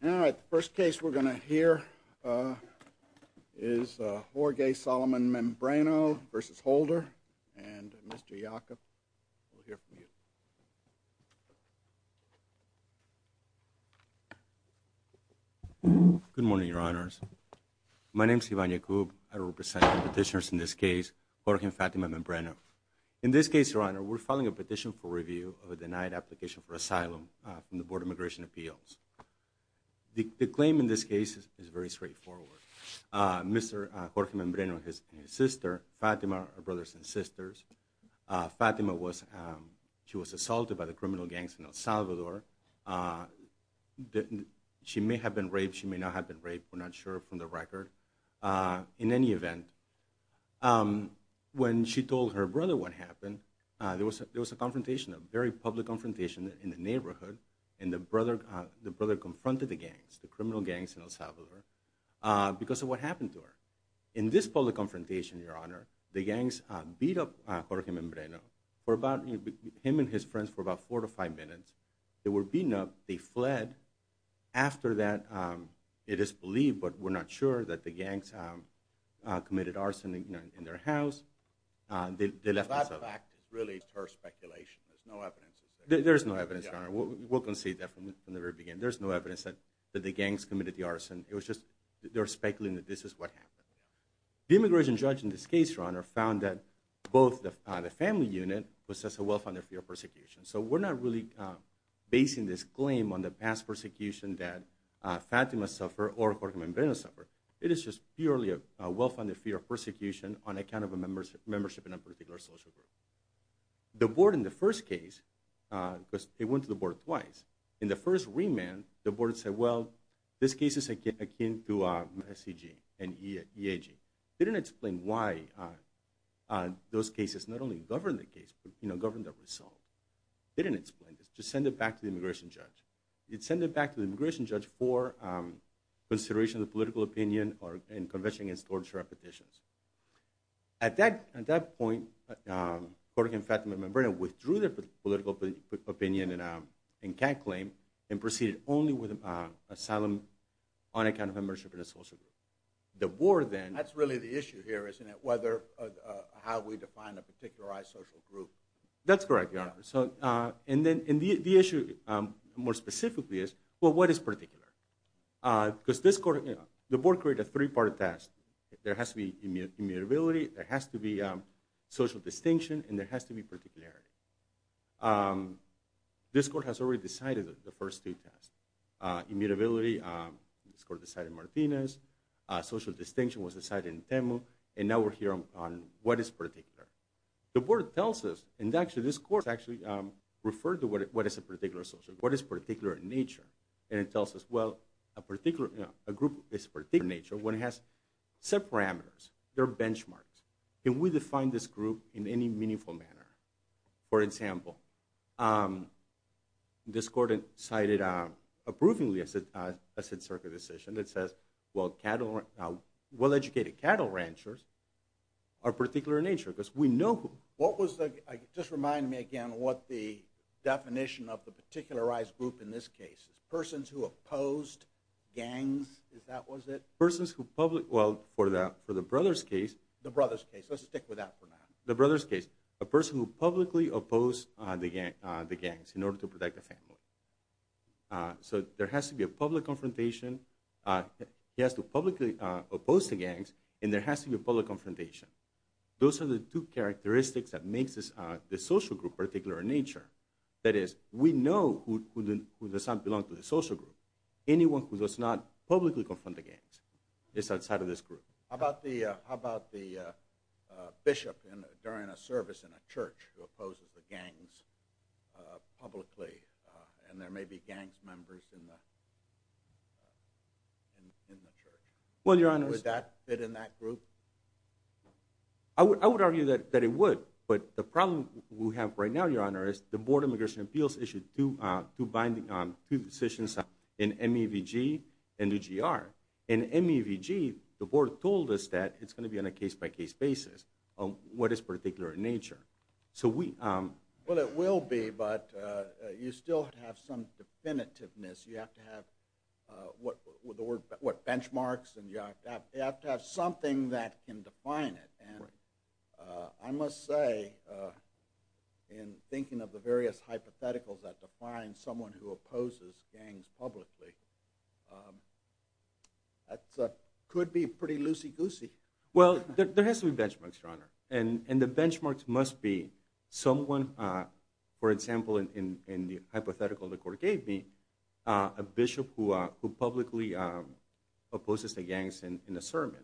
Now, the first case we're going to hear is Jorge Solomon-Membreno v. Holder, and Mr. Yacob, we'll hear from you. Good morning, Your Honors. My name is Ivan Yacob. I represent the petitioners in this case, Jorge and Fatima-Membreno. In this case, Your Honor, we're filing a petition for review of a denied application for asylum from the Board of Immigration Appeals. The claim in this case is very straightforward. Mr. Jorge-Membreno and his sister, Fatima, are brothers and sisters. Fatima was assaulted by the criminal gangs in El Salvador. She may have been raped, she may not have been raped, we're not sure from the record. In any event, when she told her brother what happened, there was a confrontation, a very public confrontation in the neighborhood, and the brother confronted the gangs, the criminal gangs in El Salvador, because of what happened to her. In this public confrontation, Your Honor, the gangs beat up Jorge-Membreno, him and his friends, for about four to five minutes. They were beaten up, they fled. After that, it is believed, but we're not sure, that the gangs committed arson in their house. That fact is really pure speculation. There's no evidence. There's no evidence, Your Honor. We'll concede that from the very beginning. There's no evidence that the gangs committed the arson. It was just, they're speculating that this is what happened. The immigration judge in this case, Your Honor, found that both the family unit was just a well-founded fear of persecution. So we're not really basing this claim on the past persecution that Fatima suffered or Jorge-Membreno suffered. It is just purely a well-founded fear of persecution on account of a membership in a particular social group. The board in the first case, because they went to the board twice, in the first remand, the board said, well, this case is akin to SCG and EAG. They didn't explain why those cases not only govern the case, but govern the result. They didn't explain this. Just send it back to the immigration judge. They'd send it back to the immigration judge for consideration of the political opinion and conviction against torture and petitions. At that point, Jorge and Fatima-Membreno withdrew their political opinion and CAG claim and proceeded only with asylum on account of a membership in a social group. That's really the issue here, isn't it? How we define a particularized social group. That's correct, Your Honor. And the issue more specifically is, well, what is particular? Because the board created a three-part test. There has to be immutability, there has to be social distinction, and there has to be particularity. This court has already decided the first two tests. Immutability, this court decided in Martinez, social distinction was decided in Temu, and now we're here on what is particular. The board tells us, and actually this court actually referred to what is a particular social group, what is particular in nature, and it tells us, well, a group is particular in nature when it has set parameters, there are benchmarks. Can we define this group in any meaningful manner? For example, this court decided approvingly as a circuit decision that says, well, educated cattle ranchers are particular in nature because we know who. Just remind me again what the definition of the particularized group in this case is. Persons who opposed gangs, is that what it is? Well, for the brother's case. The brother's case, let's stick with that for now. The brother's case, a person who publicly opposed the gangs in order to protect the family. So there has to be a public confrontation. He has to publicly oppose the gangs, and there has to be a public confrontation. Those are the two characteristics that makes the social group particular in nature. That is, we know who does not belong to the social group. Anyone who does not publicly confront the gangs is outside of this group. How about the bishop during a service in a church who opposes the gangs publicly, and there may be gangs members in the church? Would that fit in that group? I would argue that it would, but the problem we have right now, Your Honor, is the Board of Immigration and Appeals issued two binding decisions in MEVG and the GR. In MEVG, the board told us that it's going to be on a case-by-case basis on what is particular in nature. Well, it will be, but you still have to have some definitiveness. You have to have what? Benchmarks? You have to have something that can define it. I must say, in thinking of the various hypotheticals that define someone who opposes gangs publicly, that could be pretty loosey-goosey. And the benchmarks must be someone, for example, in the hypothetical the court gave me, a bishop who publicly opposes the gangs in a sermon.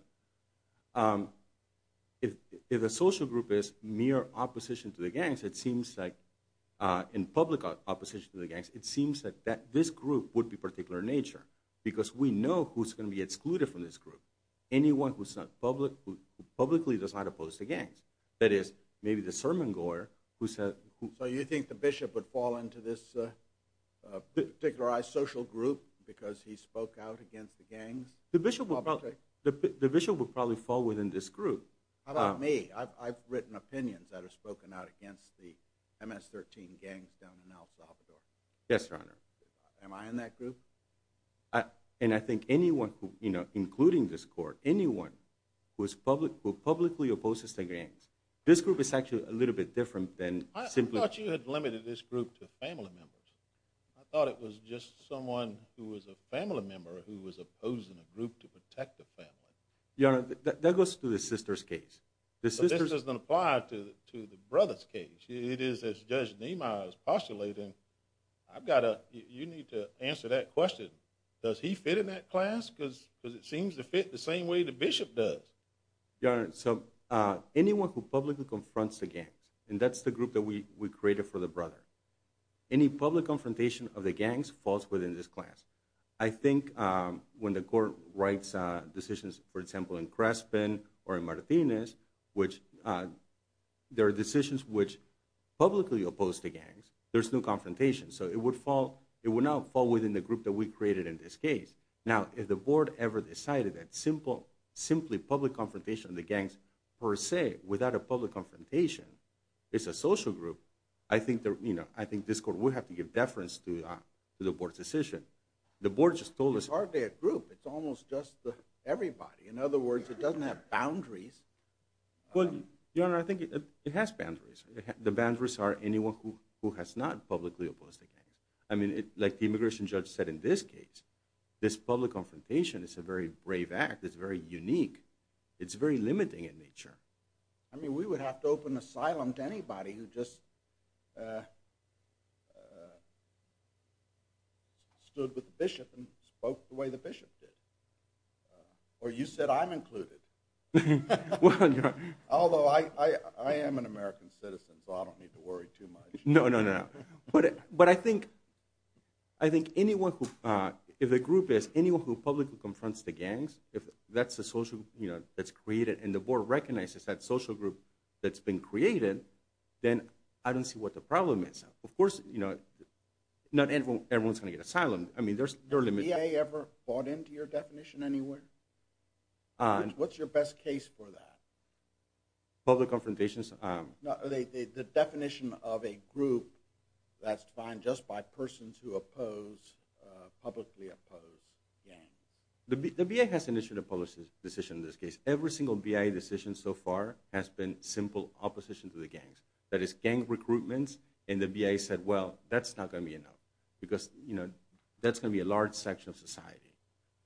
If a social group is mere opposition to the gangs, it seems like, in public opposition to the gangs, it seems that this group would be particular in nature, because we know who's going to be excluded from this group. Anyone who publicly does not oppose the gangs. That is, maybe the sermon-goer who said... So you think the bishop would fall into this particularized social group because he spoke out against the gangs? The bishop would probably fall within this group. How about me? I've written opinions that have spoken out against the MS-13 gangs down in El Salvador. Yes, Your Honor. Am I in that group? And I think anyone, including this court, anyone who publicly opposes the gangs, this group is actually a little bit different than simply... I thought you had limited this group to family members. I thought it was just someone who was a family member who was opposing a group to protect the family. Your Honor, that goes to the sister's case. This doesn't apply to the brother's case. It is, as Judge Nema is postulating, I've got to... You need to answer that question. Does he fit in that class? Because it seems to fit the same way the bishop does. Your Honor, so anyone who publicly confronts the gangs, and that's the group that we created for the brother. Any public confrontation of the gangs falls within this class. I think when the court writes decisions, for example, in Crespin or in Martinez, which there are decisions which publicly oppose the gangs, there's no confrontation. So it would not fall within the group that we created in this case. Now, if the board ever decided that simply public confrontation of the gangs per se, without a public confrontation, it's a social group, I think this court would have to give deference to the board's decision. The board just told us... It's hardly a group. It's almost just everybody. In other words, it doesn't have boundaries. Well, Your Honor, I think it has boundaries. The boundaries are anyone who has not publicly opposed the gangs. I mean, like the immigration judge said in this case, this public confrontation is a very brave act. It's very unique. It's very limiting in nature. I mean, we would have to open asylum to anybody who just stood with the bishop and spoke the way the bishop did. Or you said I'm included. Although I am an American citizen, so I don't need to worry too much. No, no, no. But I think anyone who... If the group is anyone who publicly confronts the gangs, if that's a social group that's created and the board recognizes that social group that's been created, then I don't see what the problem is. Of course, not everyone's going to get asylum. Has the VA ever bought into your definition anywhere? What's your best case for that? Public confrontations. The definition of a group that's defined just by persons who publicly oppose gangs. The VA has initiated a public decision in this case. Every single VA decision so far has been simple opposition to the gangs. That is, gang recruitment, and the VA said, well, that's not going to be enough. Because that's going to be a large section of society.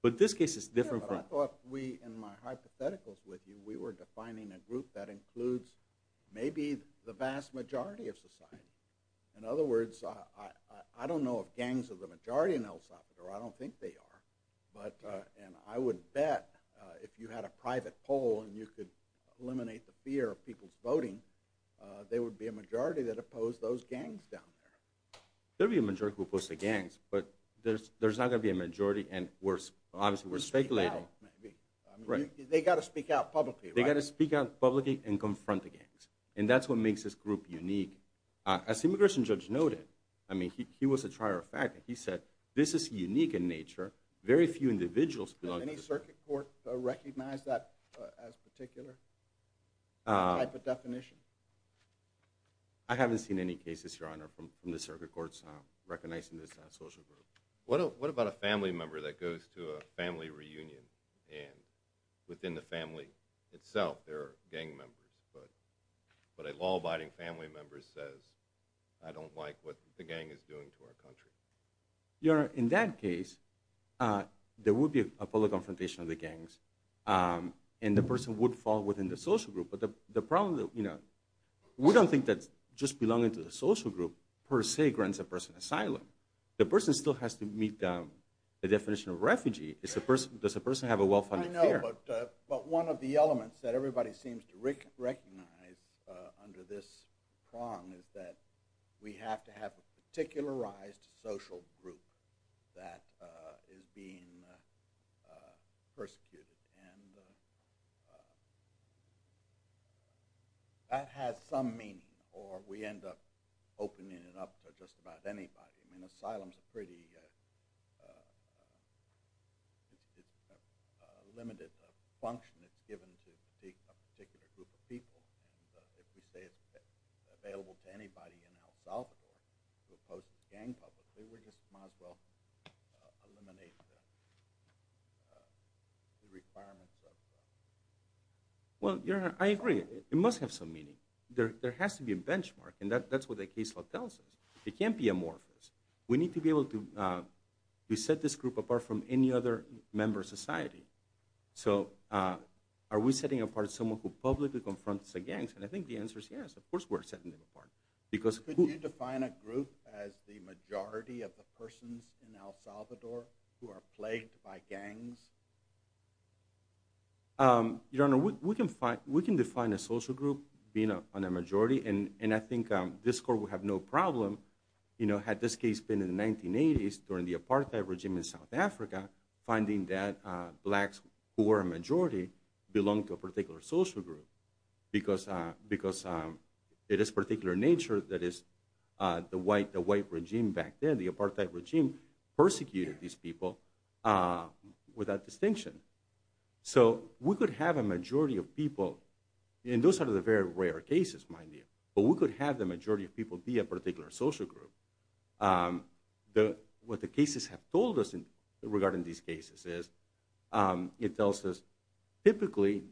But this case is different from... Yeah, but I thought we, in my hypotheticals with you, we were defining a group that includes maybe the vast majority of society. In other words, I don't know if gangs are the majority in El Salvador. I don't think they are. And I would bet if you had a private poll and you could eliminate the fear of people's voting, there would be a majority that opposed those gangs down there. There would be a majority who opposed the gangs, but there's not going to be a majority, and obviously we're speculating. They've got to speak out publicly, right? They've got to speak out publicly and confront the gangs. And that's what makes this group unique. As the immigration judge noted, I mean, he was a trier of fact. He said, this is unique in nature. Very few individuals belong to this group. Does any circuit court recognize that as a particular type of definition? I haven't seen any cases, Your Honor, from the circuit courts recognizing this social group. What about a family member that goes to a family reunion, and within the family itself there are gang members, but a law-abiding family member says, I don't like what the gang is doing to our country? Your Honor, in that case, there would be a public confrontation of the gangs, and the person would fall within the social group. We don't think that just belonging to the social group, per se, grants a person asylum. The person still has to meet the definition of refugee. Does the person have a welfare? I know, but one of the elements that everybody seems to recognize under this prong is that we have to have a particularized social group that is being persecuted. And that has some meaning, or we end up opening it up to just about anybody. I mean, asylum's a pretty limited function that's given to a particular group of people. If you say it's available to anybody in El Salvador to oppose the gang publicly, we just might as well eliminate the requirements of that. Well, Your Honor, I agree. It must have some meaning. There has to be a benchmark, and that's what the case law tells us. It can't be amorphous. We need to be able to set this group apart from any other member of society. So are we setting apart someone who publicly confronts the gangs? And I think the answer is yes, of course we're setting them apart. Could you define a group as the majority of the persons in El Salvador who are plagued by gangs? Your Honor, we can define a social group on a majority, and I think this Court would have no problem, had this case been in the 1980s during the apartheid regime in South Africa, finding that blacks who were a majority belonged to a particular social group because it is of a particular nature that the white regime back then, the apartheid regime, persecuted these people with that distinction. So we could have a majority of people, and those are the very rare cases, mind you, but we could have the majority of people be a particular social group. What the cases have told us regarding these cases is, it tells us typically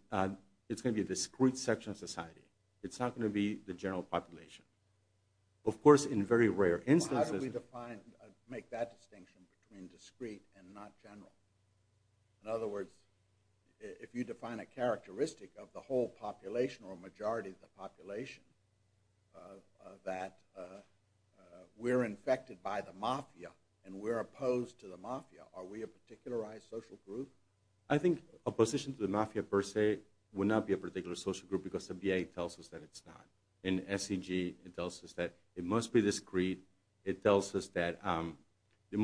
it's going to be a discrete section of society. It's not going to be the general population. Of course, in very rare instances... How do we define, make that distinction between discrete and not general? In other words, if you define a characteristic of the whole population or a majority of the population that we're infected by the mafia and we're opposed to the mafia, are we a particularized social group? I think opposition to the mafia per se would not be a particular social group because the VA tells us that it's not. In SEG, it tells us that it must be discrete. It tells us that we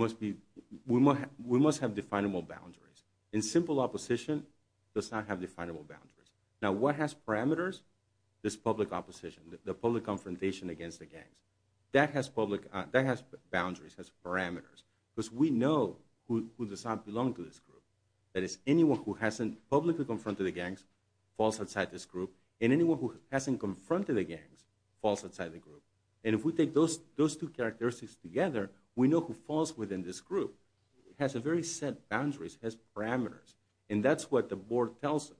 must have definable boundaries. In simple opposition, it does not have definable boundaries. Now, what has parameters? This public opposition, the public confrontation against the gangs. That has boundaries, has parameters, because we know who does not belong to this group. That is, anyone who hasn't publicly confronted the gangs falls outside this group, and anyone who hasn't confronted the gangs falls outside the group. And if we take those two characteristics together, we know who falls within this group. It has a very set boundaries, has parameters, and that's what the board tells us.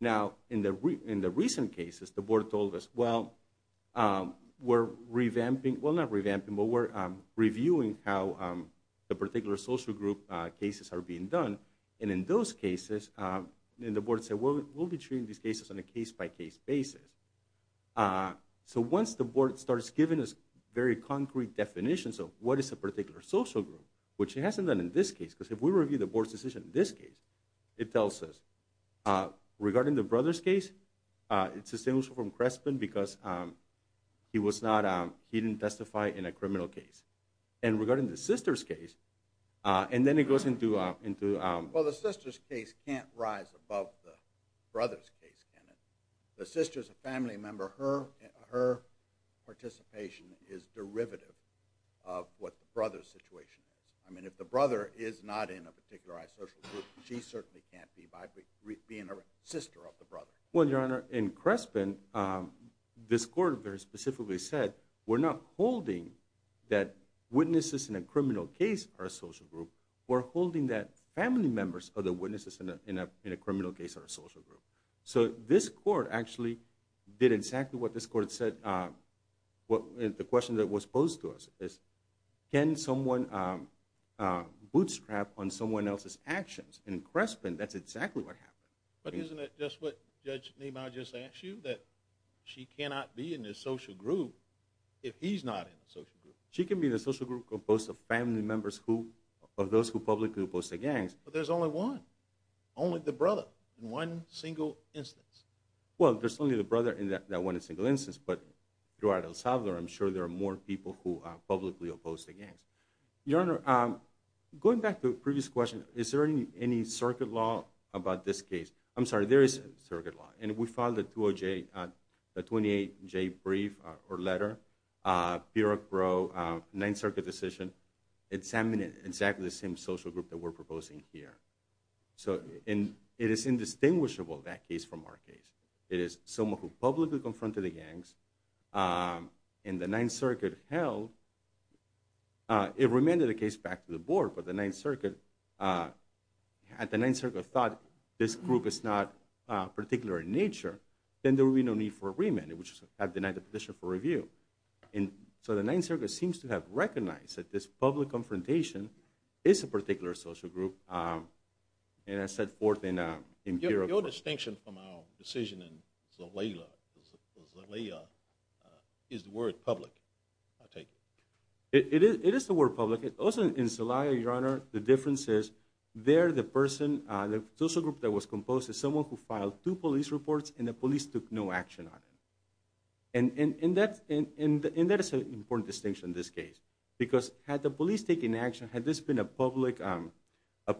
Now, in the recent cases, the board told us, well, we're revamping, well, not revamping, but we're reviewing how the particular social group cases are being done. And in those cases, the board said, we'll be treating these cases on a case-by-case basis. So once the board starts giving us very concrete definitions of what is a particular social group, which it hasn't done in this case, because if we review the board's decision in this case, it tells us, regarding the brother's case, it's distinguished from Crespin because he didn't testify in a criminal case. And regarding the sister's case, and then it goes into... Well, the sister's case can't rise above the brother's case, can it? The sister's a family member. Her participation is derivative of what the brother's situation is. I mean, if the brother is not in a particularized social group, she certainly can't be by being a sister of the brother. Well, Your Honor, in Crespin, this court very specifically said, we're not holding that witnesses in a criminal case are a social group, we're holding that family members of the witnesses in a criminal case are a social group. So this court actually did exactly what this court said. The question that was posed to us is, can someone bootstrap on someone else's actions? In Crespin, that's exactly what happened. But isn't it just what Judge Nima just asked you, that she cannot be in this social group if he's not in the social group? She can be in the social group composed of family members of those who publicly opposed the gangs. But there's only one, only the brother, in one single instance. Well, there's only the brother in that one single instance, but throughout El Salvador, I'm sure there are more people who publicly opposed the gangs. Your Honor, going back to the previous question, is there any circuit law about this case? I'm sorry, there is a circuit law. And we filed a 28-J brief or letter, bureaucro, ninth circuit decision, examining exactly the same social group that we're proposing here. So it is indistinguishable, that case, from our case. It is someone who publicly confronted the gangs, and the ninth circuit held, it remanded the case back to the board, but the ninth circuit, had the ninth circuit thought this group is not particular in nature, then there would be no need for a remand, it would just have denied the petition for review. So the ninth circuit seems to have recognized that this public confrontation is a particular social group, and has set forth in bureaucro. Your distinction from our decision in Zelaya, is the word public, I take it? It is the word public. Also in Zelaya, Your Honor, the difference is, there the person, the social group that was composed, is someone who filed two police reports, and the police took no action on it. And that is an important distinction in this case. Because had the police taken action, had this been a public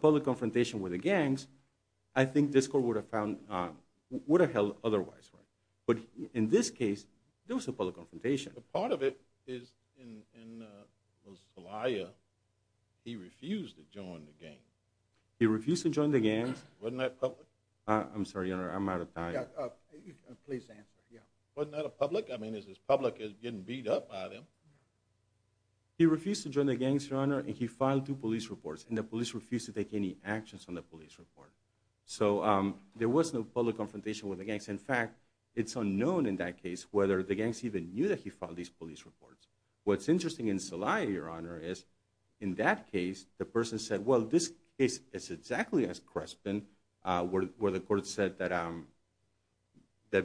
confrontation with the gangs, I think this court would have found, would have held otherwise. But in this case, there was a public confrontation. But part of it is in Zelaya, he refused to join the gangs. He refused to join the gangs. Wasn't that public? I'm sorry, Your Honor, I'm out of time. Please answer, yeah. Wasn't that a public? I mean, is this public getting beat up by them? He refused to join the gangs, Your Honor, and he filed two police reports, and the police refused to take any actions on the police report. So there was no public confrontation with the gangs. In fact, it's unknown in that case whether the gangs even knew that he filed these police reports. What's interesting in Zelaya, Your Honor, is in that case, the person said, well, this case is exactly as Crespin, where the court said that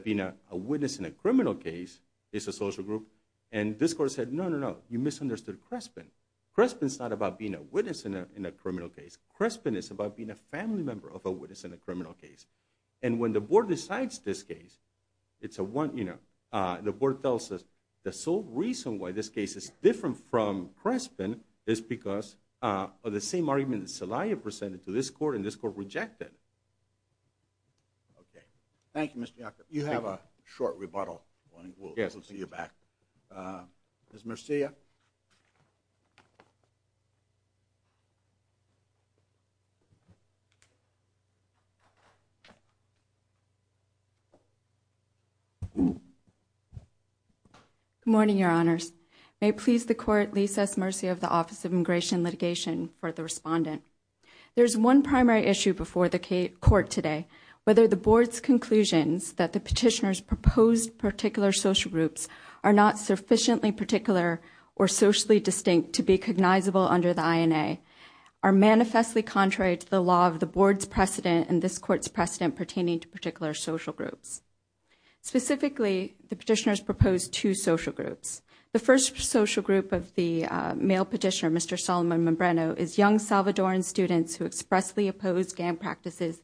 being a witness in a criminal case is a social group. And this court said, no, no, no, you misunderstood Crespin. Crespin's not about being a witness in a criminal case. Crespin is about being a family member of a witness in a criminal case. And when the board decides this case, it's a one, you know, the board tells us the sole reason why this case is different from Crespin is because of the same argument that Zelaya presented to this court, and this court rejected. Okay. Thank you, Mr. Yacob. You have a short rebuttal. We'll see you back. Ms. Murcia. Good morning, Your Honors. May it please the court, Lisa S. Murcia of the Office of Immigration Litigation, for the respondent. There's one primary issue before the court today, whether the board's conclusions that the petitioner's proposed particular social groups are not sufficiently particular or socially distinct to be cognizable under the INA are manifestly contrary to the law of the board's precedent and this court's precedent pertaining to particular social groups. Specifically, the petitioners proposed two social groups. The first social group of the male petitioner, Mr. Solomon Membreno, is young Salvadoran students who expressly oppose gang practices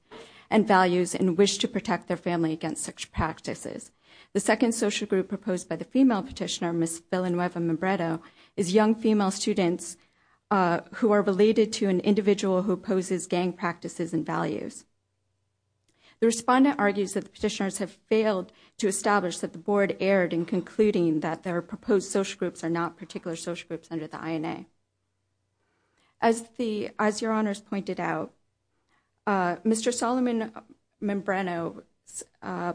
and values and wish to protect their family against such practices. The second social group proposed by the female petitioner, Ms. Villanueva Membreno, is young female students who are related to an individual who opposes gang practices and values. The respondent argues that the petitioners have failed to establish that the board erred in concluding that their proposed social groups are not particular social groups under the INA. As Your Honors pointed out, Mr. Solomon Membreno's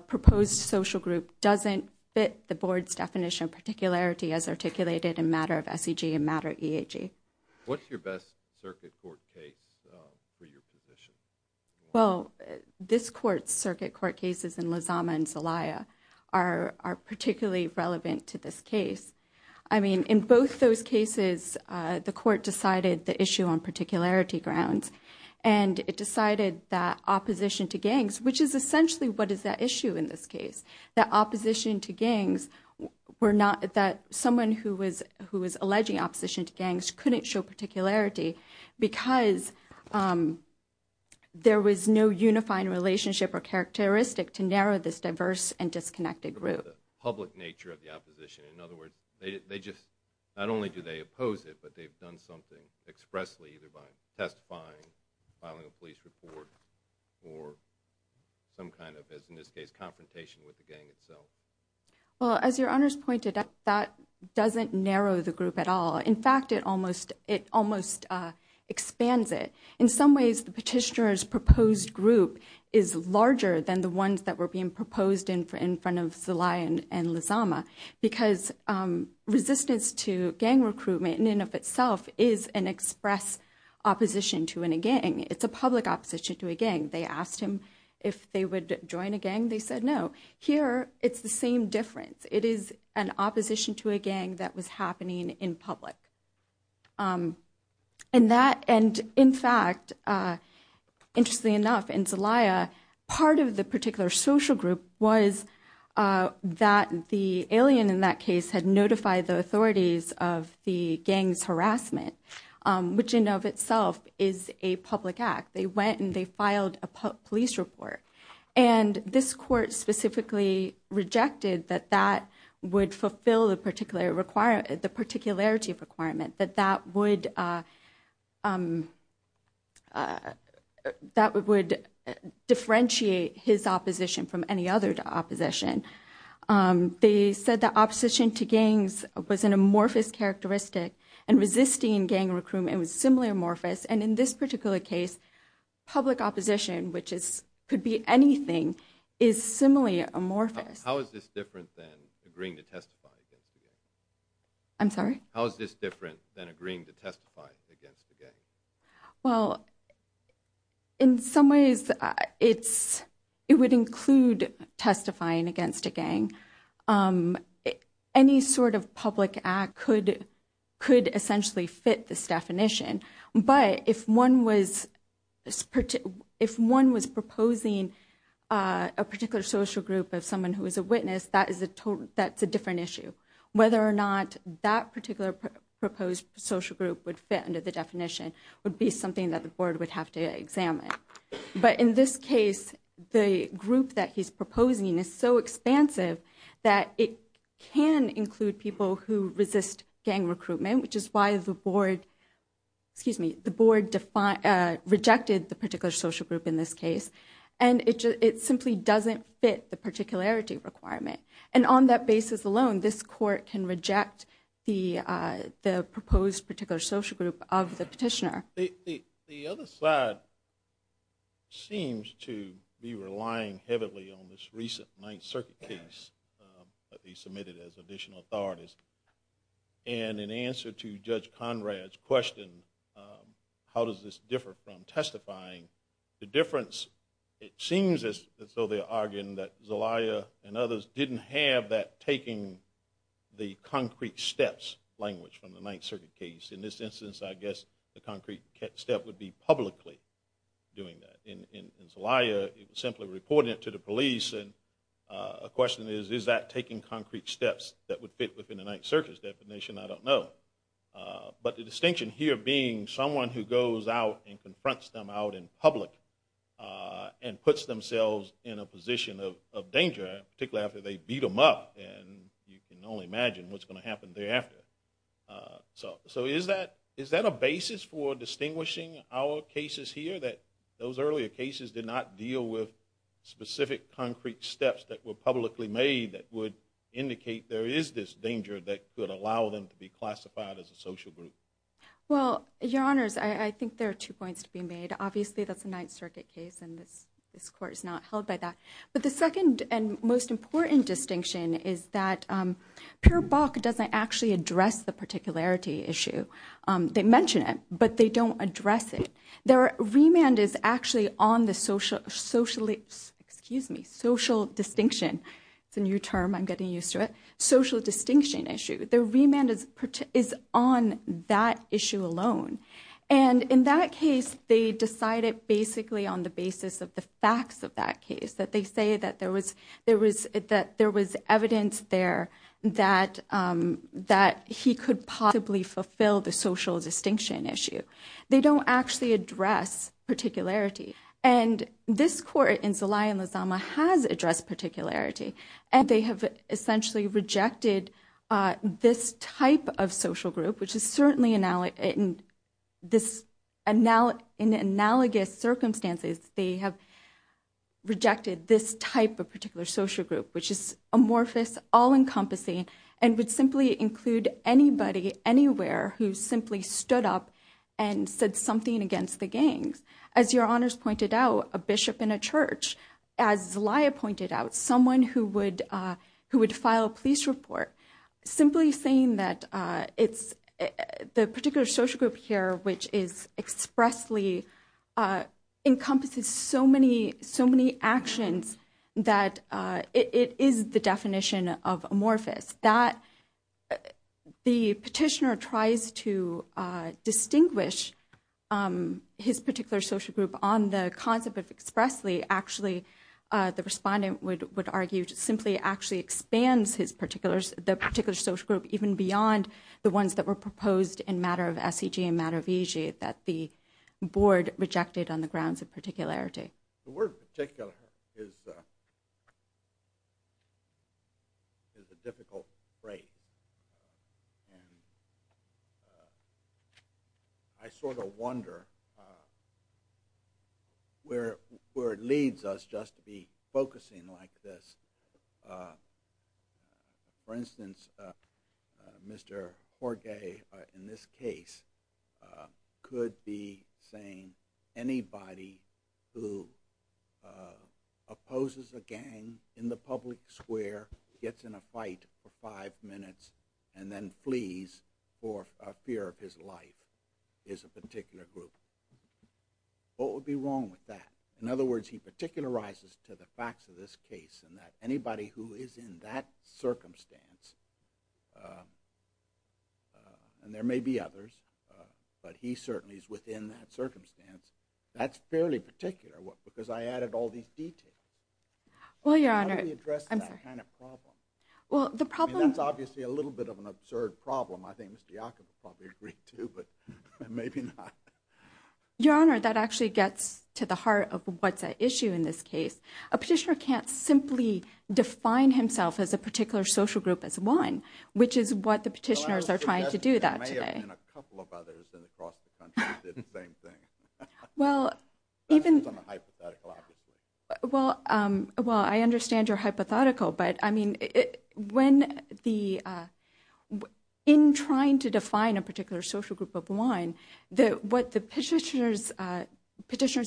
proposed social group doesn't fit the board's definition of particularity as articulated in matter of SEG and matter of EAG. What's your best circuit court case for your position? Well, this court's circuit court cases in Lozama and Zelaya are particularly relevant to this case. I mean, in both those cases, the court decided the issue on particularity grounds and it decided that opposition to gangs, which is essentially what is at issue in this case, that opposition to gangs were not... that someone who was alleging opposition to gangs couldn't show particularity because there was no unifying relationship or characteristic to narrow this diverse and disconnected group. ...public nature of the opposition. In other words, they just... not only do they oppose it, but they've done something expressly, either by testifying, filing a police report, or some kind of, as in this case, confrontation with the gang itself. Well, as Your Honors pointed out, that doesn't narrow the group at all. In fact, it almost expands it. In some ways, the petitioner's proposed group is larger than the ones that were being proposed in front of Zelaya and Lozama because resistance to gang recruitment in and of itself is an express opposition to a gang. It's a public opposition to a gang. They asked him if they would join a gang. They said no. Here, it's the same difference. It is an opposition to a gang that was happening in public. And that... and in fact, interestingly enough, in Zelaya, part of the particular social group was that the alien in that case had notified the authorities of the gang's harassment, which in and of itself is a public act. They went and they filed a police report. And this court specifically rejected that that would fulfill the particular requirement, the particularity requirement, that that would... that would differentiate his opposition from any other opposition. They said that opposition to gangs was an amorphous characteristic, and resisting gang recruitment was similarly amorphous. And in this particular case, public opposition, which could be anything, is similarly amorphous. How is this different than agreeing to testify against a gang? I'm sorry? How is this different than agreeing to testify against a gang? Well, in some ways, it's... Any sort of public act could essentially fit this definition. But if one was... if one was proposing a particular social group of someone who was a witness, that's a different issue. Whether or not that particular proposed social group would fit under the definition would be something that the board would have to examine. But in this case, the group that he's proposing is so expansive that it can include people who resist gang recruitment, which is why the board... excuse me, the board rejected the particular social group in this case. And it simply doesn't fit the particularity requirement. And on that basis alone, this court can reject the proposed particular social group of the petitioner. The other side seems to be relying heavily on this recent Ninth Circuit case that they submitted as additional authorities. And in answer to Judge Conrad's question, how does this differ from testifying, the difference, it seems as though they're arguing that Zelaya and others didn't have that taking the concrete steps language from the Ninth Circuit case. In this instance, I guess the concrete step would be publicly doing that. In Zelaya, it was simply reporting it to the police. And the question is, is that taking concrete steps that would fit within the Ninth Circuit's definition? I don't know. But the distinction here being someone who goes out and confronts them out in public and puts themselves in a position of danger, particularly after they beat them up, and you can only imagine what's going to happen thereafter. So is that a basis for distinguishing our cases here that those earlier cases did not deal with specific concrete steps that were publicly made that would indicate there is this danger that could allow them to be classified as a social group? Well, Your Honors, I think there are two points to be made. Obviously, that's a Ninth Circuit case, and this Court is not held by that. But the second and most important distinction is that Peer Bok doesn't actually address the particularity issue. They mention it, but they don't address it. Their remand is actually on the social distinction. It's a new term. I'm getting used to it. Social distinction issue. Their remand is on that issue alone. And in that case, they decide it basically on the basis of the facts of that case, that they say that there was evidence there that he could possibly fulfill the social distinction issue. They don't actually address particularity. And this Court in Zelaya and Lozama has addressed particularity. And they have essentially rejected this type of social group, which is certainly in analogous circumstances, they have rejected this type of particular social group, which is amorphous, all-encompassing, and would simply include anybody, anywhere, who simply stood up and said something against the gangs. As Your Honors pointed out, a bishop in a church. As Zelaya pointed out, someone who would file a police report. Simply saying that it's the particular social group here, which is expressly encompasses so many actions that it is the definition of amorphous. The petitioner tries to distinguish his particular social group on the concept of expressly. Actually, the respondent would argue simply actually expands the particular social group even beyond the ones that were proposed in matter of SEG and matter of EJ that the Board rejected on the grounds of particularity. The word particular is a difficult phrase. I sort of wonder where it leads us just to be focusing like this. For instance, Mr. Jorge, in this case, could be saying anybody who opposes a gang in the public square, gets in a fight for five minutes, and then flees for a fear of his life is a particular group. What would be wrong with that? In other words, he particularizes to the facts of this case in that anybody who is in that circumstance, and there may be others, but he certainly is within that circumstance, that's fairly particular because I added all these details. How do we address that kind of problem? That's obviously a little bit of an absurd problem. I think Mr. Iacobo probably agreed to, but maybe not. Your Honor, that actually gets to the heart of what's at issue in this case. A petitioner can't simply define himself as a particular social group as one, which is what the petitioners are trying to do that today. There may have been a couple of others across the country that did the same thing. That's not a hypothetical, obviously. Well, I understand you're hypothetical, but in trying to define a particular social group of one, what the petitioners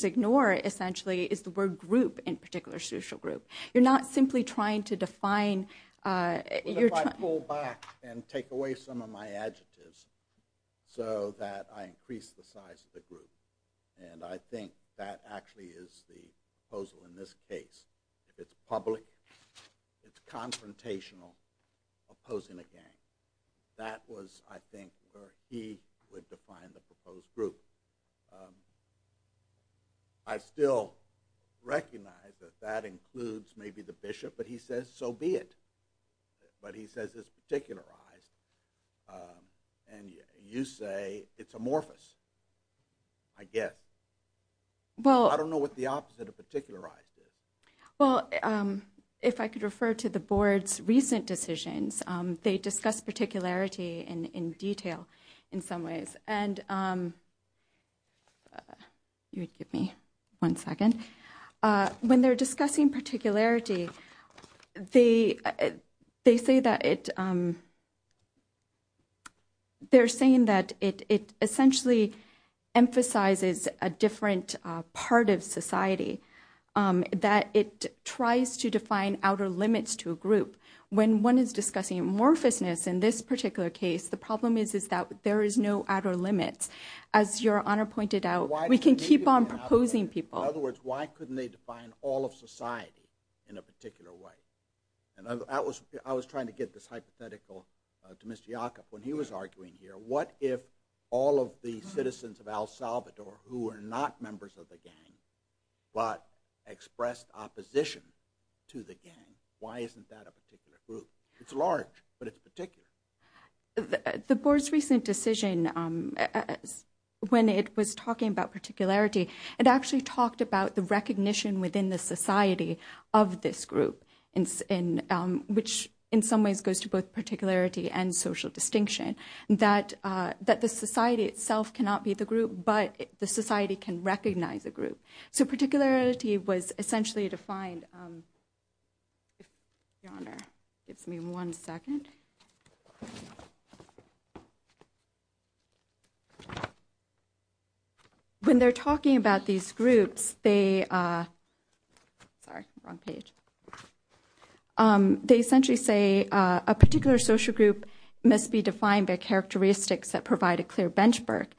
ignore, essentially, is the word group in particular social group. You're not simply trying to define... What if I pull back and take away some of my adjectives so that I increase the size of the group? And I think that actually is the proposal in this case. It's public, it's confrontational, opposing a gang. That was, I think, where he would define the proposed group. I still recognize that that includes maybe the bishop, but he says so be it. But he says it's particularized, and you say it's amorphous, I guess. I don't know what the opposite of particularized is. Well, if I could refer to the board's recent decisions, they discuss particularity in detail in some ways. And you would give me one second. When they're discussing particularity, they say that it essentially emphasizes a different part of society, that it tries to define outer limits to a group. When one is discussing amorphousness, in this particular case, the problem is that there is no outer limits. As Your Honor pointed out, we can keep on proposing people. In other words, why couldn't they define all of society in a particular way? And I was trying to get this hypothetical to Mr. Yacob when he was arguing here. What if all of the citizens of El Salvador who are not members of the gang but expressed opposition to the gang, why isn't that a particular group? It's large, but it's particular. The board's recent decision, when it was talking about particularity, it actually talked about the recognition within the society of this group, which in some ways goes to both particularity and social distinction, that the society itself cannot be the group, but the society can recognize a group. So particularity was essentially defined... Your Honor, give me one second. When they're talking about these groups, they... Sorry, wrong page. They essentially say a particular social group must be defined by characteristics that provide a clear benchmark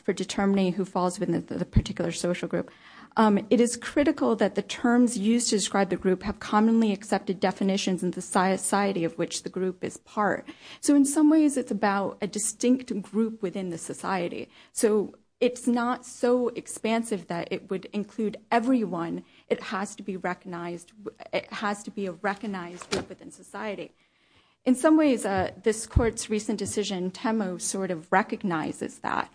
for determining who falls within the particular social group. It is critical that the terms used to describe the group have commonly accepted definitions in the society of which the group is part. So in some ways, it's about a distinct group within the society. So it's not so expansive that it would include everyone. It has to be recognized... It has to be a recognized group within society. In some ways, this Court's recent decision, Temo, sort of recognizes that.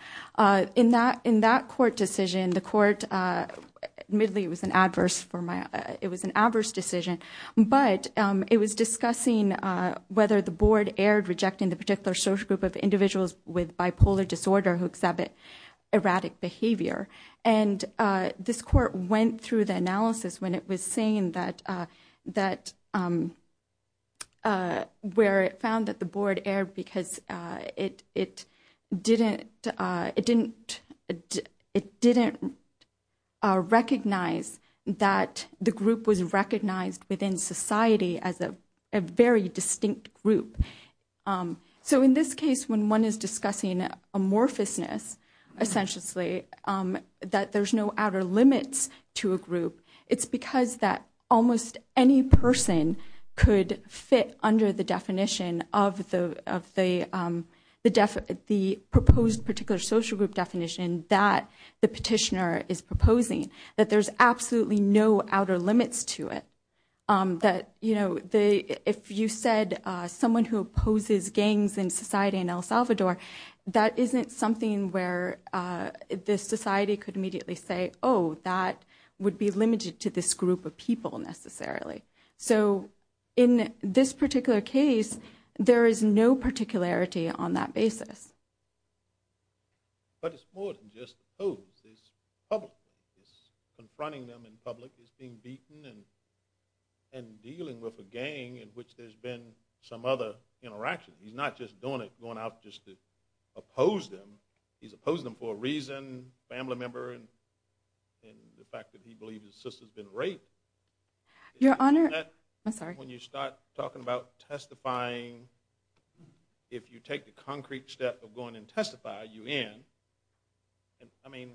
In that Court decision, the Court... But it was discussing whether the Board erred rejecting the particular social group of individuals with bipolar disorder who exhibit erratic behavior. And this Court went through the analysis when it was saying that... Where it found that the Board erred because it didn't... It didn't recognize that the group was recognized within society as a very distinct group. So in this case, when one is discussing amorphousness, essentially, that there's no outer limits to a group, it's because that almost any person could fit under the definition of the proposed particular social group definition that the petitioner is proposing, that there's absolutely no outer limits to it. That, you know, if you said someone who opposes gangs in society in El Salvador, that isn't something where the society could immediately say, oh, that would be limited to this group of people, necessarily. So in this particular case, there is no particularity on that basis. But it's more than just opposed. It's public. It's confronting them in public as being beaten and dealing with a gang in which there's been some other interaction. He's not just going out just to oppose them. He's opposing them for a reason, family member, and the fact that he believes his sister's been raped. Your Honor... I'm sorry. When you start talking about testifying, if you take the concrete step of going and testify, you end. I mean,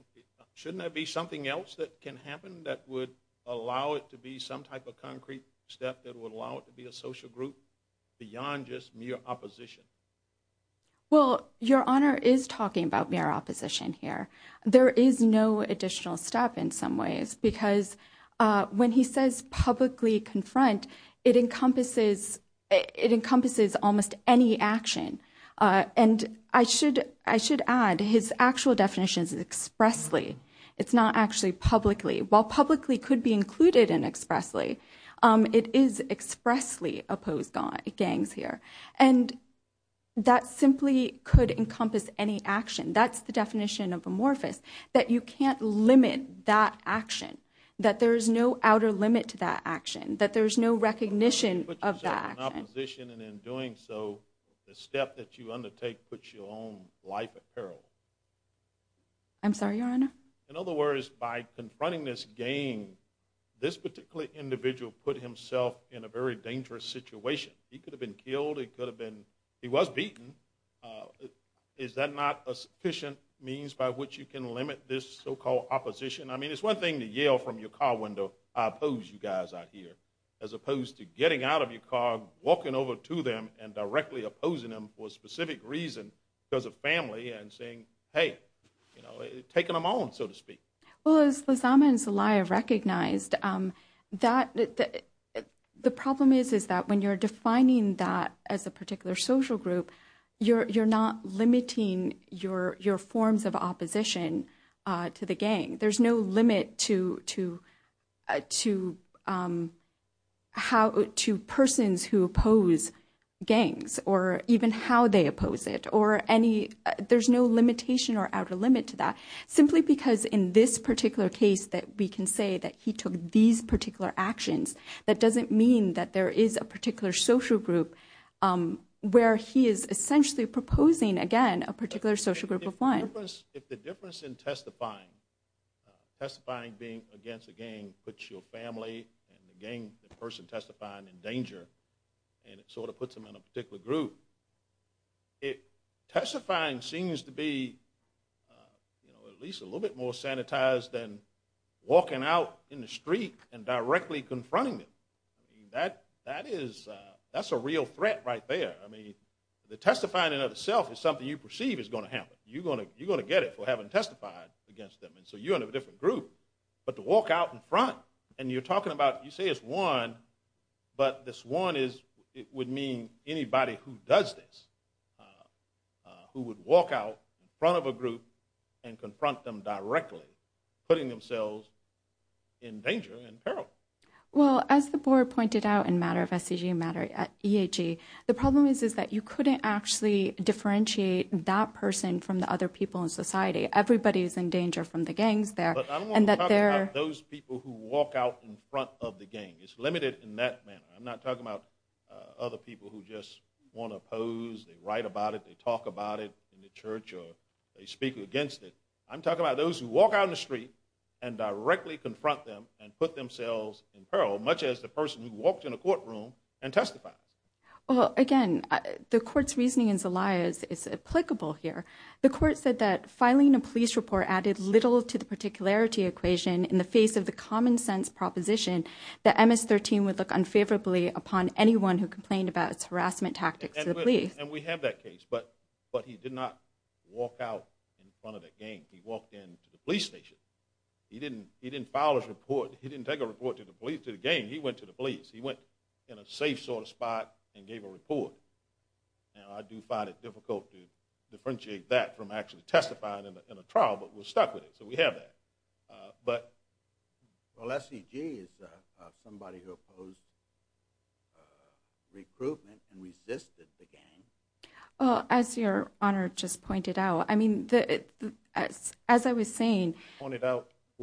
shouldn't there be something else that can happen that would allow it to be some type of concrete step that would allow it to be a social group beyond just mere opposition? Well, Your Honor is talking about mere opposition here. There is no additional step in some ways because when he says publicly confront, it encompasses almost any action. And I should add his actual definition is expressly. It's not actually publicly. While publicly could be included in expressly, it is expressly opposed gangs here. And that simply could encompass any action. That's the definition of amorphous, that you can't limit that action, that there is no outer limit to that action, that there is no recognition of that action. And in doing so, the step that you undertake puts your own life at peril. I'm sorry, Your Honor? In other words, by confronting this gang, this particular individual put himself in a very dangerous situation. He could have been killed. He could have been... He was beaten. Is that not a sufficient means by which you can limit this so-called opposition? I mean, it's one thing to yell from your car window, I oppose you guys out here, as opposed to getting out of your car, walking over to them and directly opposing them for a specific reason because of family and saying, hey, you know, taking them on, so to speak. Well, as Lizama and Zelaya recognized, the problem is that when you're defining that as a particular social group, you're not limiting your forms of opposition to the gang. There's no limit to persons who oppose gangs or even how they oppose it or any... There's no limitation or outer limit to that, simply because in this particular case that we can say that he took these particular actions, that doesn't mean that there is a particular social group where he is essentially proposing, again, a particular social group of one. If the difference in testifying, testifying against a gang puts your family and the person testifying in danger and it sort of puts them in a particular group, testifying seems to be, you know, at least a little bit more sanitized than walking out in the street and directly confronting them. That is... that's a real threat right there. I mean, the testifying in and of itself is something you perceive is going to happen. You're going to get it for having testified against them, and so you're in a different group. But to walk out in front and you're talking about... You say it's one, but this one is... It would mean anybody who does this, who would walk out in front of a group and confront them directly, putting themselves in danger and peril. Well, as the board pointed out in matter of SCG matter at EHE, the problem is that you couldn't actually differentiate that person from the other people in society. Everybody is in danger from the gangs there. But I don't want to talk about those people who walk out in front of the gang. It's limited in that manner. I'm not talking about other people who just want to oppose, they write about it, they talk about it in the church, or they speak against it. I'm talking about those who walk out in the street and directly confront them and put themselves in peril, much as the person who walked in a courtroom and testified. Well, again, the court's reasoning in Zelaya's is applicable here. The court said that filing a police report added little to the particularity equation in the face of the common-sense proposition that MS-13 would look unfavorably upon anyone who complained about its harassment tactics to the police. And we have that case. But he did not walk out in front of the gang. He walked into the police station. He didn't file his report. He didn't take a report to the police, to the gang. He went to the police. He went in a safe sort of spot and gave a report. Now, I do find it difficult to differentiate that from actually testifying in a trial, but we're stuck with it, so we have that. But... Well, SEG is somebody who opposed recruitment and resisted the gang. Well, as Your Honor just pointed out, I mean, as I was saying,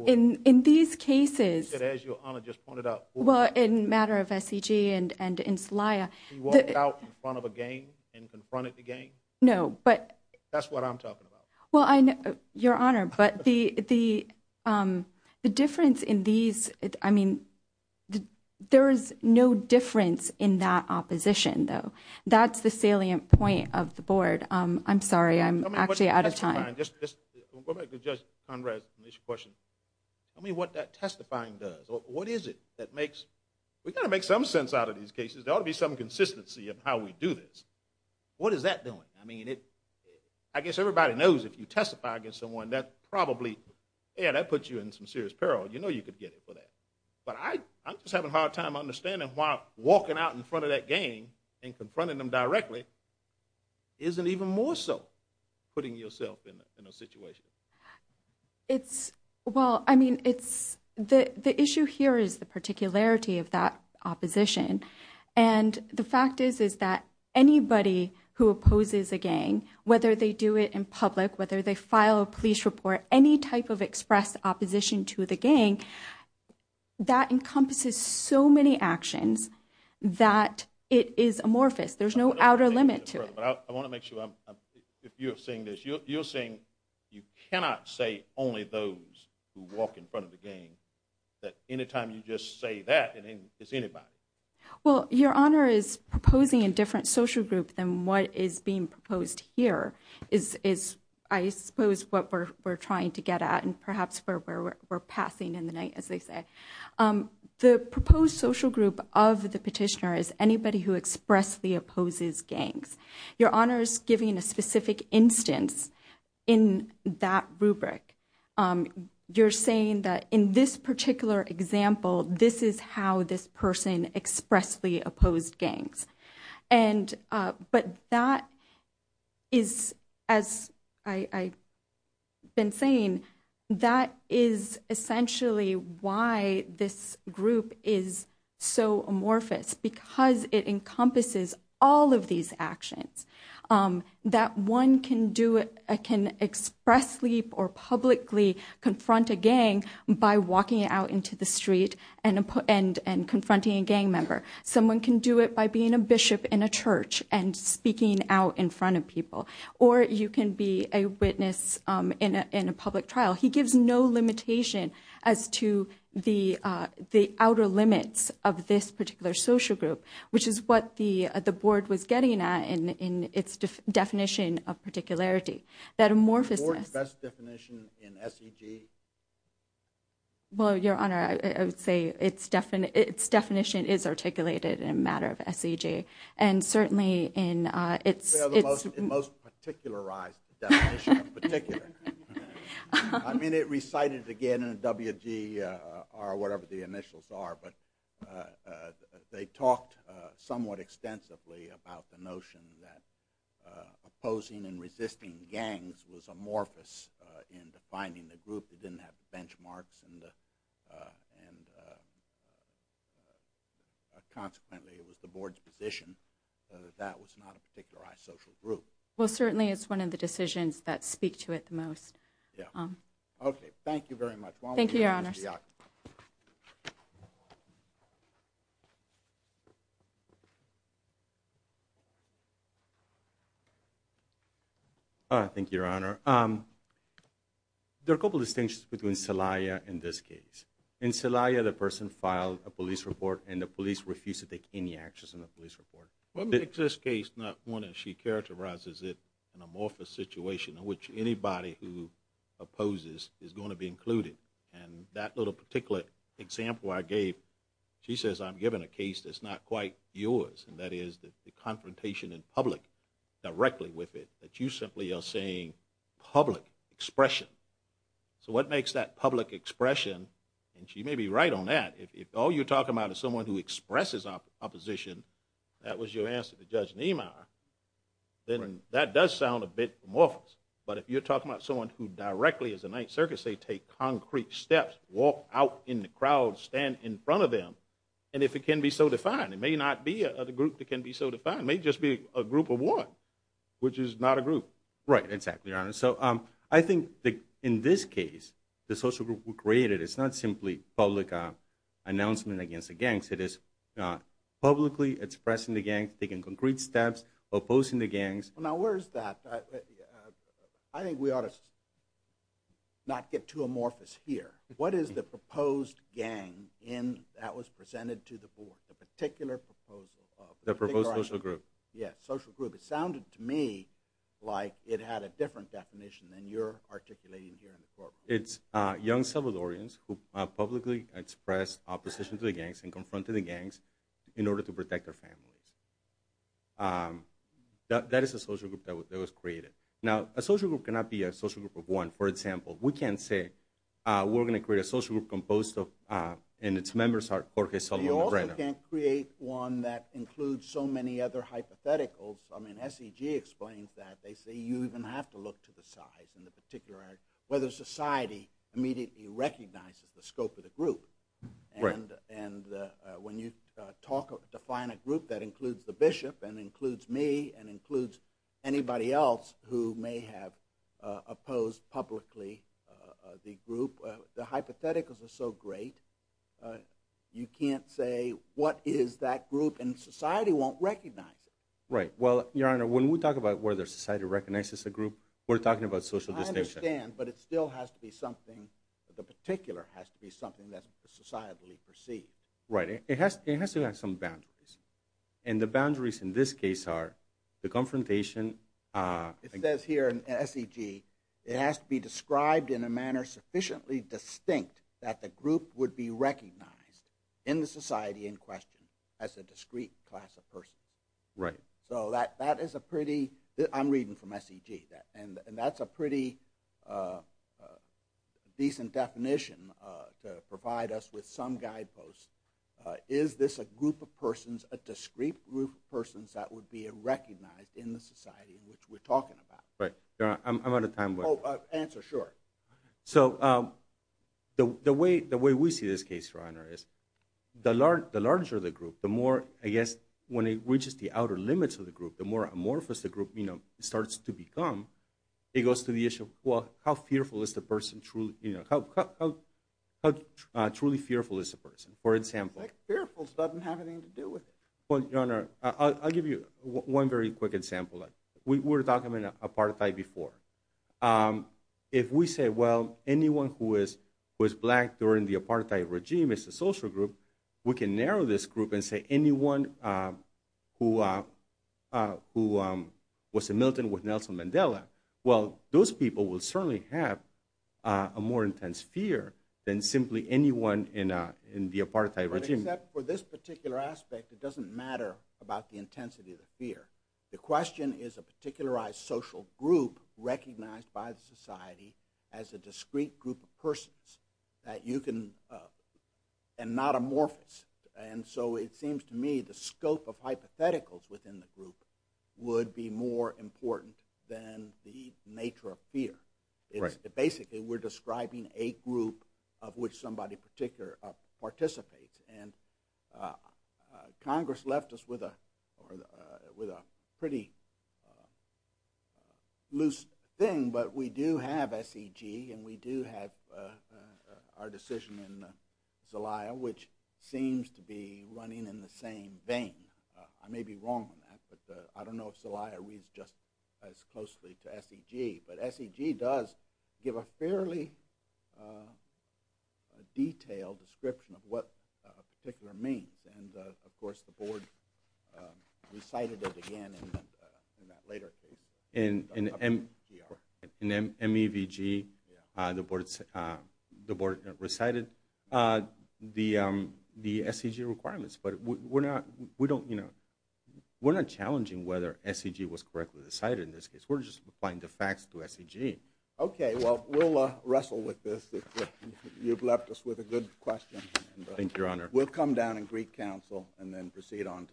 in these cases... You said, as Your Honor just pointed out. Well, in the matter of SEG and in Celaya... He walked out in front of a gang and confronted the gang? No, but... That's what I'm talking about. Well, Your Honor, but the difference in these... I mean, there is no difference in that opposition, though. That's the salient point of the board. I'm sorry, I'm actually out of time. Just go back to Judge Conrad's initial question. Tell me what that testifying does. What is it that makes... We've got to make some sense out of these cases. There ought to be some consistency of how we do this. What is that doing? I mean, I guess everybody knows if you testify against someone, that probably... Yeah, that puts you in some serious peril. You know you could get it for that. But I'm just having a hard time understanding why walking out in front of that gang and confronting them directly isn't even more so putting yourself in a situation. It's... What you hear is the particularity of that opposition. And the fact is that anybody who opposes a gang, whether they do it in public, whether they file a police report, any type of express opposition to the gang, that encompasses so many actions that it is amorphous. There's no outer limit to it. I want to make sure, if you're seeing this, you're saying you cannot say only those who walk in front of the gang, that anytime you just say that, it's anybody. Well, Your Honor is proposing a different social group than what is being proposed here, is, I suppose, what we're trying to get at and perhaps where we're passing in the night, as they say. The proposed social group of the petitioner is anybody who expressly opposes gangs. Your Honor is giving a specific instance in that rubric. You're saying that in this particular example, this is how this person expressly opposed gangs. But that is, as I've been saying, that is essentially why this group is so amorphous, because it encompasses all of these actions, that one can expressly or publicly confront a gang by walking out into the street and confronting a gang member. Someone can do it by being a bishop in a church and speaking out in front of people. Or you can be a witness in a public trial. He gives no limitation as to the outer limits of this particular social group, which is what the Board was getting at in its definition of particularity. That amorphousness... The Board's best definition in SEG? Well, Your Honor, I would say its definition is articulated in a matter of SEG. And certainly in its... It's the most particularized definition of particular. I mean, it recited again in a WGR, whatever the initials are, but they talked somewhat extensively about the notion that opposing and resisting gangs was amorphous in defining the group. It didn't have the benchmarks, and consequently it was the Board's position that that was not a particularized social group. Well, certainly it's one of the decisions that speak to it the most. Okay, thank you very much. Thank you, Your Honors. Thank you. Thank you, Your Honor. There are a couple of distinctions between Celaya and this case. In Celaya, the person filed a police report, and the police refused to take any actions in the police report. What makes this case not one that she characterizes as an amorphous situation in which anybody who opposes is going to be included? And that little particular example I gave, she says I'm giving a case that's not quite yours, and that is the confrontation in public directly with it, that you simply are saying public expression. So what makes that public expression, and she may be right on that, if all you're talking about is someone who expresses opposition, that was your answer to Judge Niemeyer, then that does sound a bit amorphous. But if you're talking about someone who directly, as the Ninth Circuit say, take concrete steps, walk out in the crowd, stand in front of them, and if it can be so defined, it may not be a group that can be so defined. It may just be a group of one, which is not a group. Right, exactly, Your Honor. So I think in this case, the social group we created, it's not simply public announcement against the gangs. It is publicly expressing the gangs, taking concrete steps, opposing the gangs. Now, where is that? I think we ought to not get too amorphous here. What is the proposed gang that was presented to the board, the particular proposal of? The proposed social group. Yeah, social group. It sounded to me like it had a different definition than you're articulating here in the courtroom. It's young Salvadorians who publicly expressed opposition to the gangs and confronted the gangs in order to protect their families. That is a social group that was created. Now, a social group cannot be a social group of one. For example, we can't say, we're going to create a social group composed of, and its members are Jorge, Salvador, and Lorena. You also can't create one that includes so many other hypotheticals. I mean, SEG explains that. They say you even have to look to the size and the particular, whether society immediately recognizes the scope of the group. Right. And when you define a group that includes the bishop and includes me and includes anybody else who may have opposed publicly the group, the hypotheticals are so great, you can't say what is that group, and society won't recognize it. Right. Well, Your Honor, when we talk about whether society recognizes a group, we're talking about social distinction. I understand, but it still has to be something, the particular has to be something that's societally perceived. Right. It has to have some boundaries, and the boundaries in this case are the confrontation... It says here in SEG, it has to be described in a manner sufficiently distinct that the group would be recognized in the society in question as a discrete class of person. Right. So that is a pretty, I'm reading from SEG, and that's a pretty decent definition to provide us with some guideposts. Is this a group of persons, a discrete group of persons that would be recognized in the society in which we're talking about? Right. I'm out of time, but... Oh, answer, sure. So the way we see this case, Your Honor, is the larger the group, the more, I guess, when it reaches the outer limits of the group, the more amorphous the group starts to become, it goes to the issue of, well, how fearful is the person truly... How truly fearful is the person? For example... Fearfulness doesn't have anything to do with it. Well, Your Honor, I'll give you one very quick example. We were talking about apartheid before. If we say, well, anyone who is black during the apartheid regime is a social group, we can narrow this group and say anyone who was a militant with Nelson Mandela, well, those people will certainly have a more intense fear than simply anyone in the apartheid regime. Except for this particular aspect, it doesn't matter about the intensity of the fear. The question is a particularized social group recognized by the society as a discrete group of persons that you can... and not amorphous. And so it seems to me the scope of hypotheticals within the group would be more important than the nature of fear. Basically, we're describing a group of which somebody particular participates. And Congress left us with a pretty loose thing, but we do have SEG and we do have our decision in Zelaya, which seems to be running in the same vein. I may be wrong on that, but I don't know if Zelaya reads just as closely to SEG, but SEG does give a fairly detailed description of what a particular means. And, of course, the board recited it again in that later case. In MEVG, the board recited the SEG requirements, but we're not challenging whether SEG was correctly decided in this case. We're just applying the facts to SEG. Okay, well, we'll wrestle with this. You've left us with a good question. Thank you, Your Honor. We'll come down and greet counsel and then proceed on to...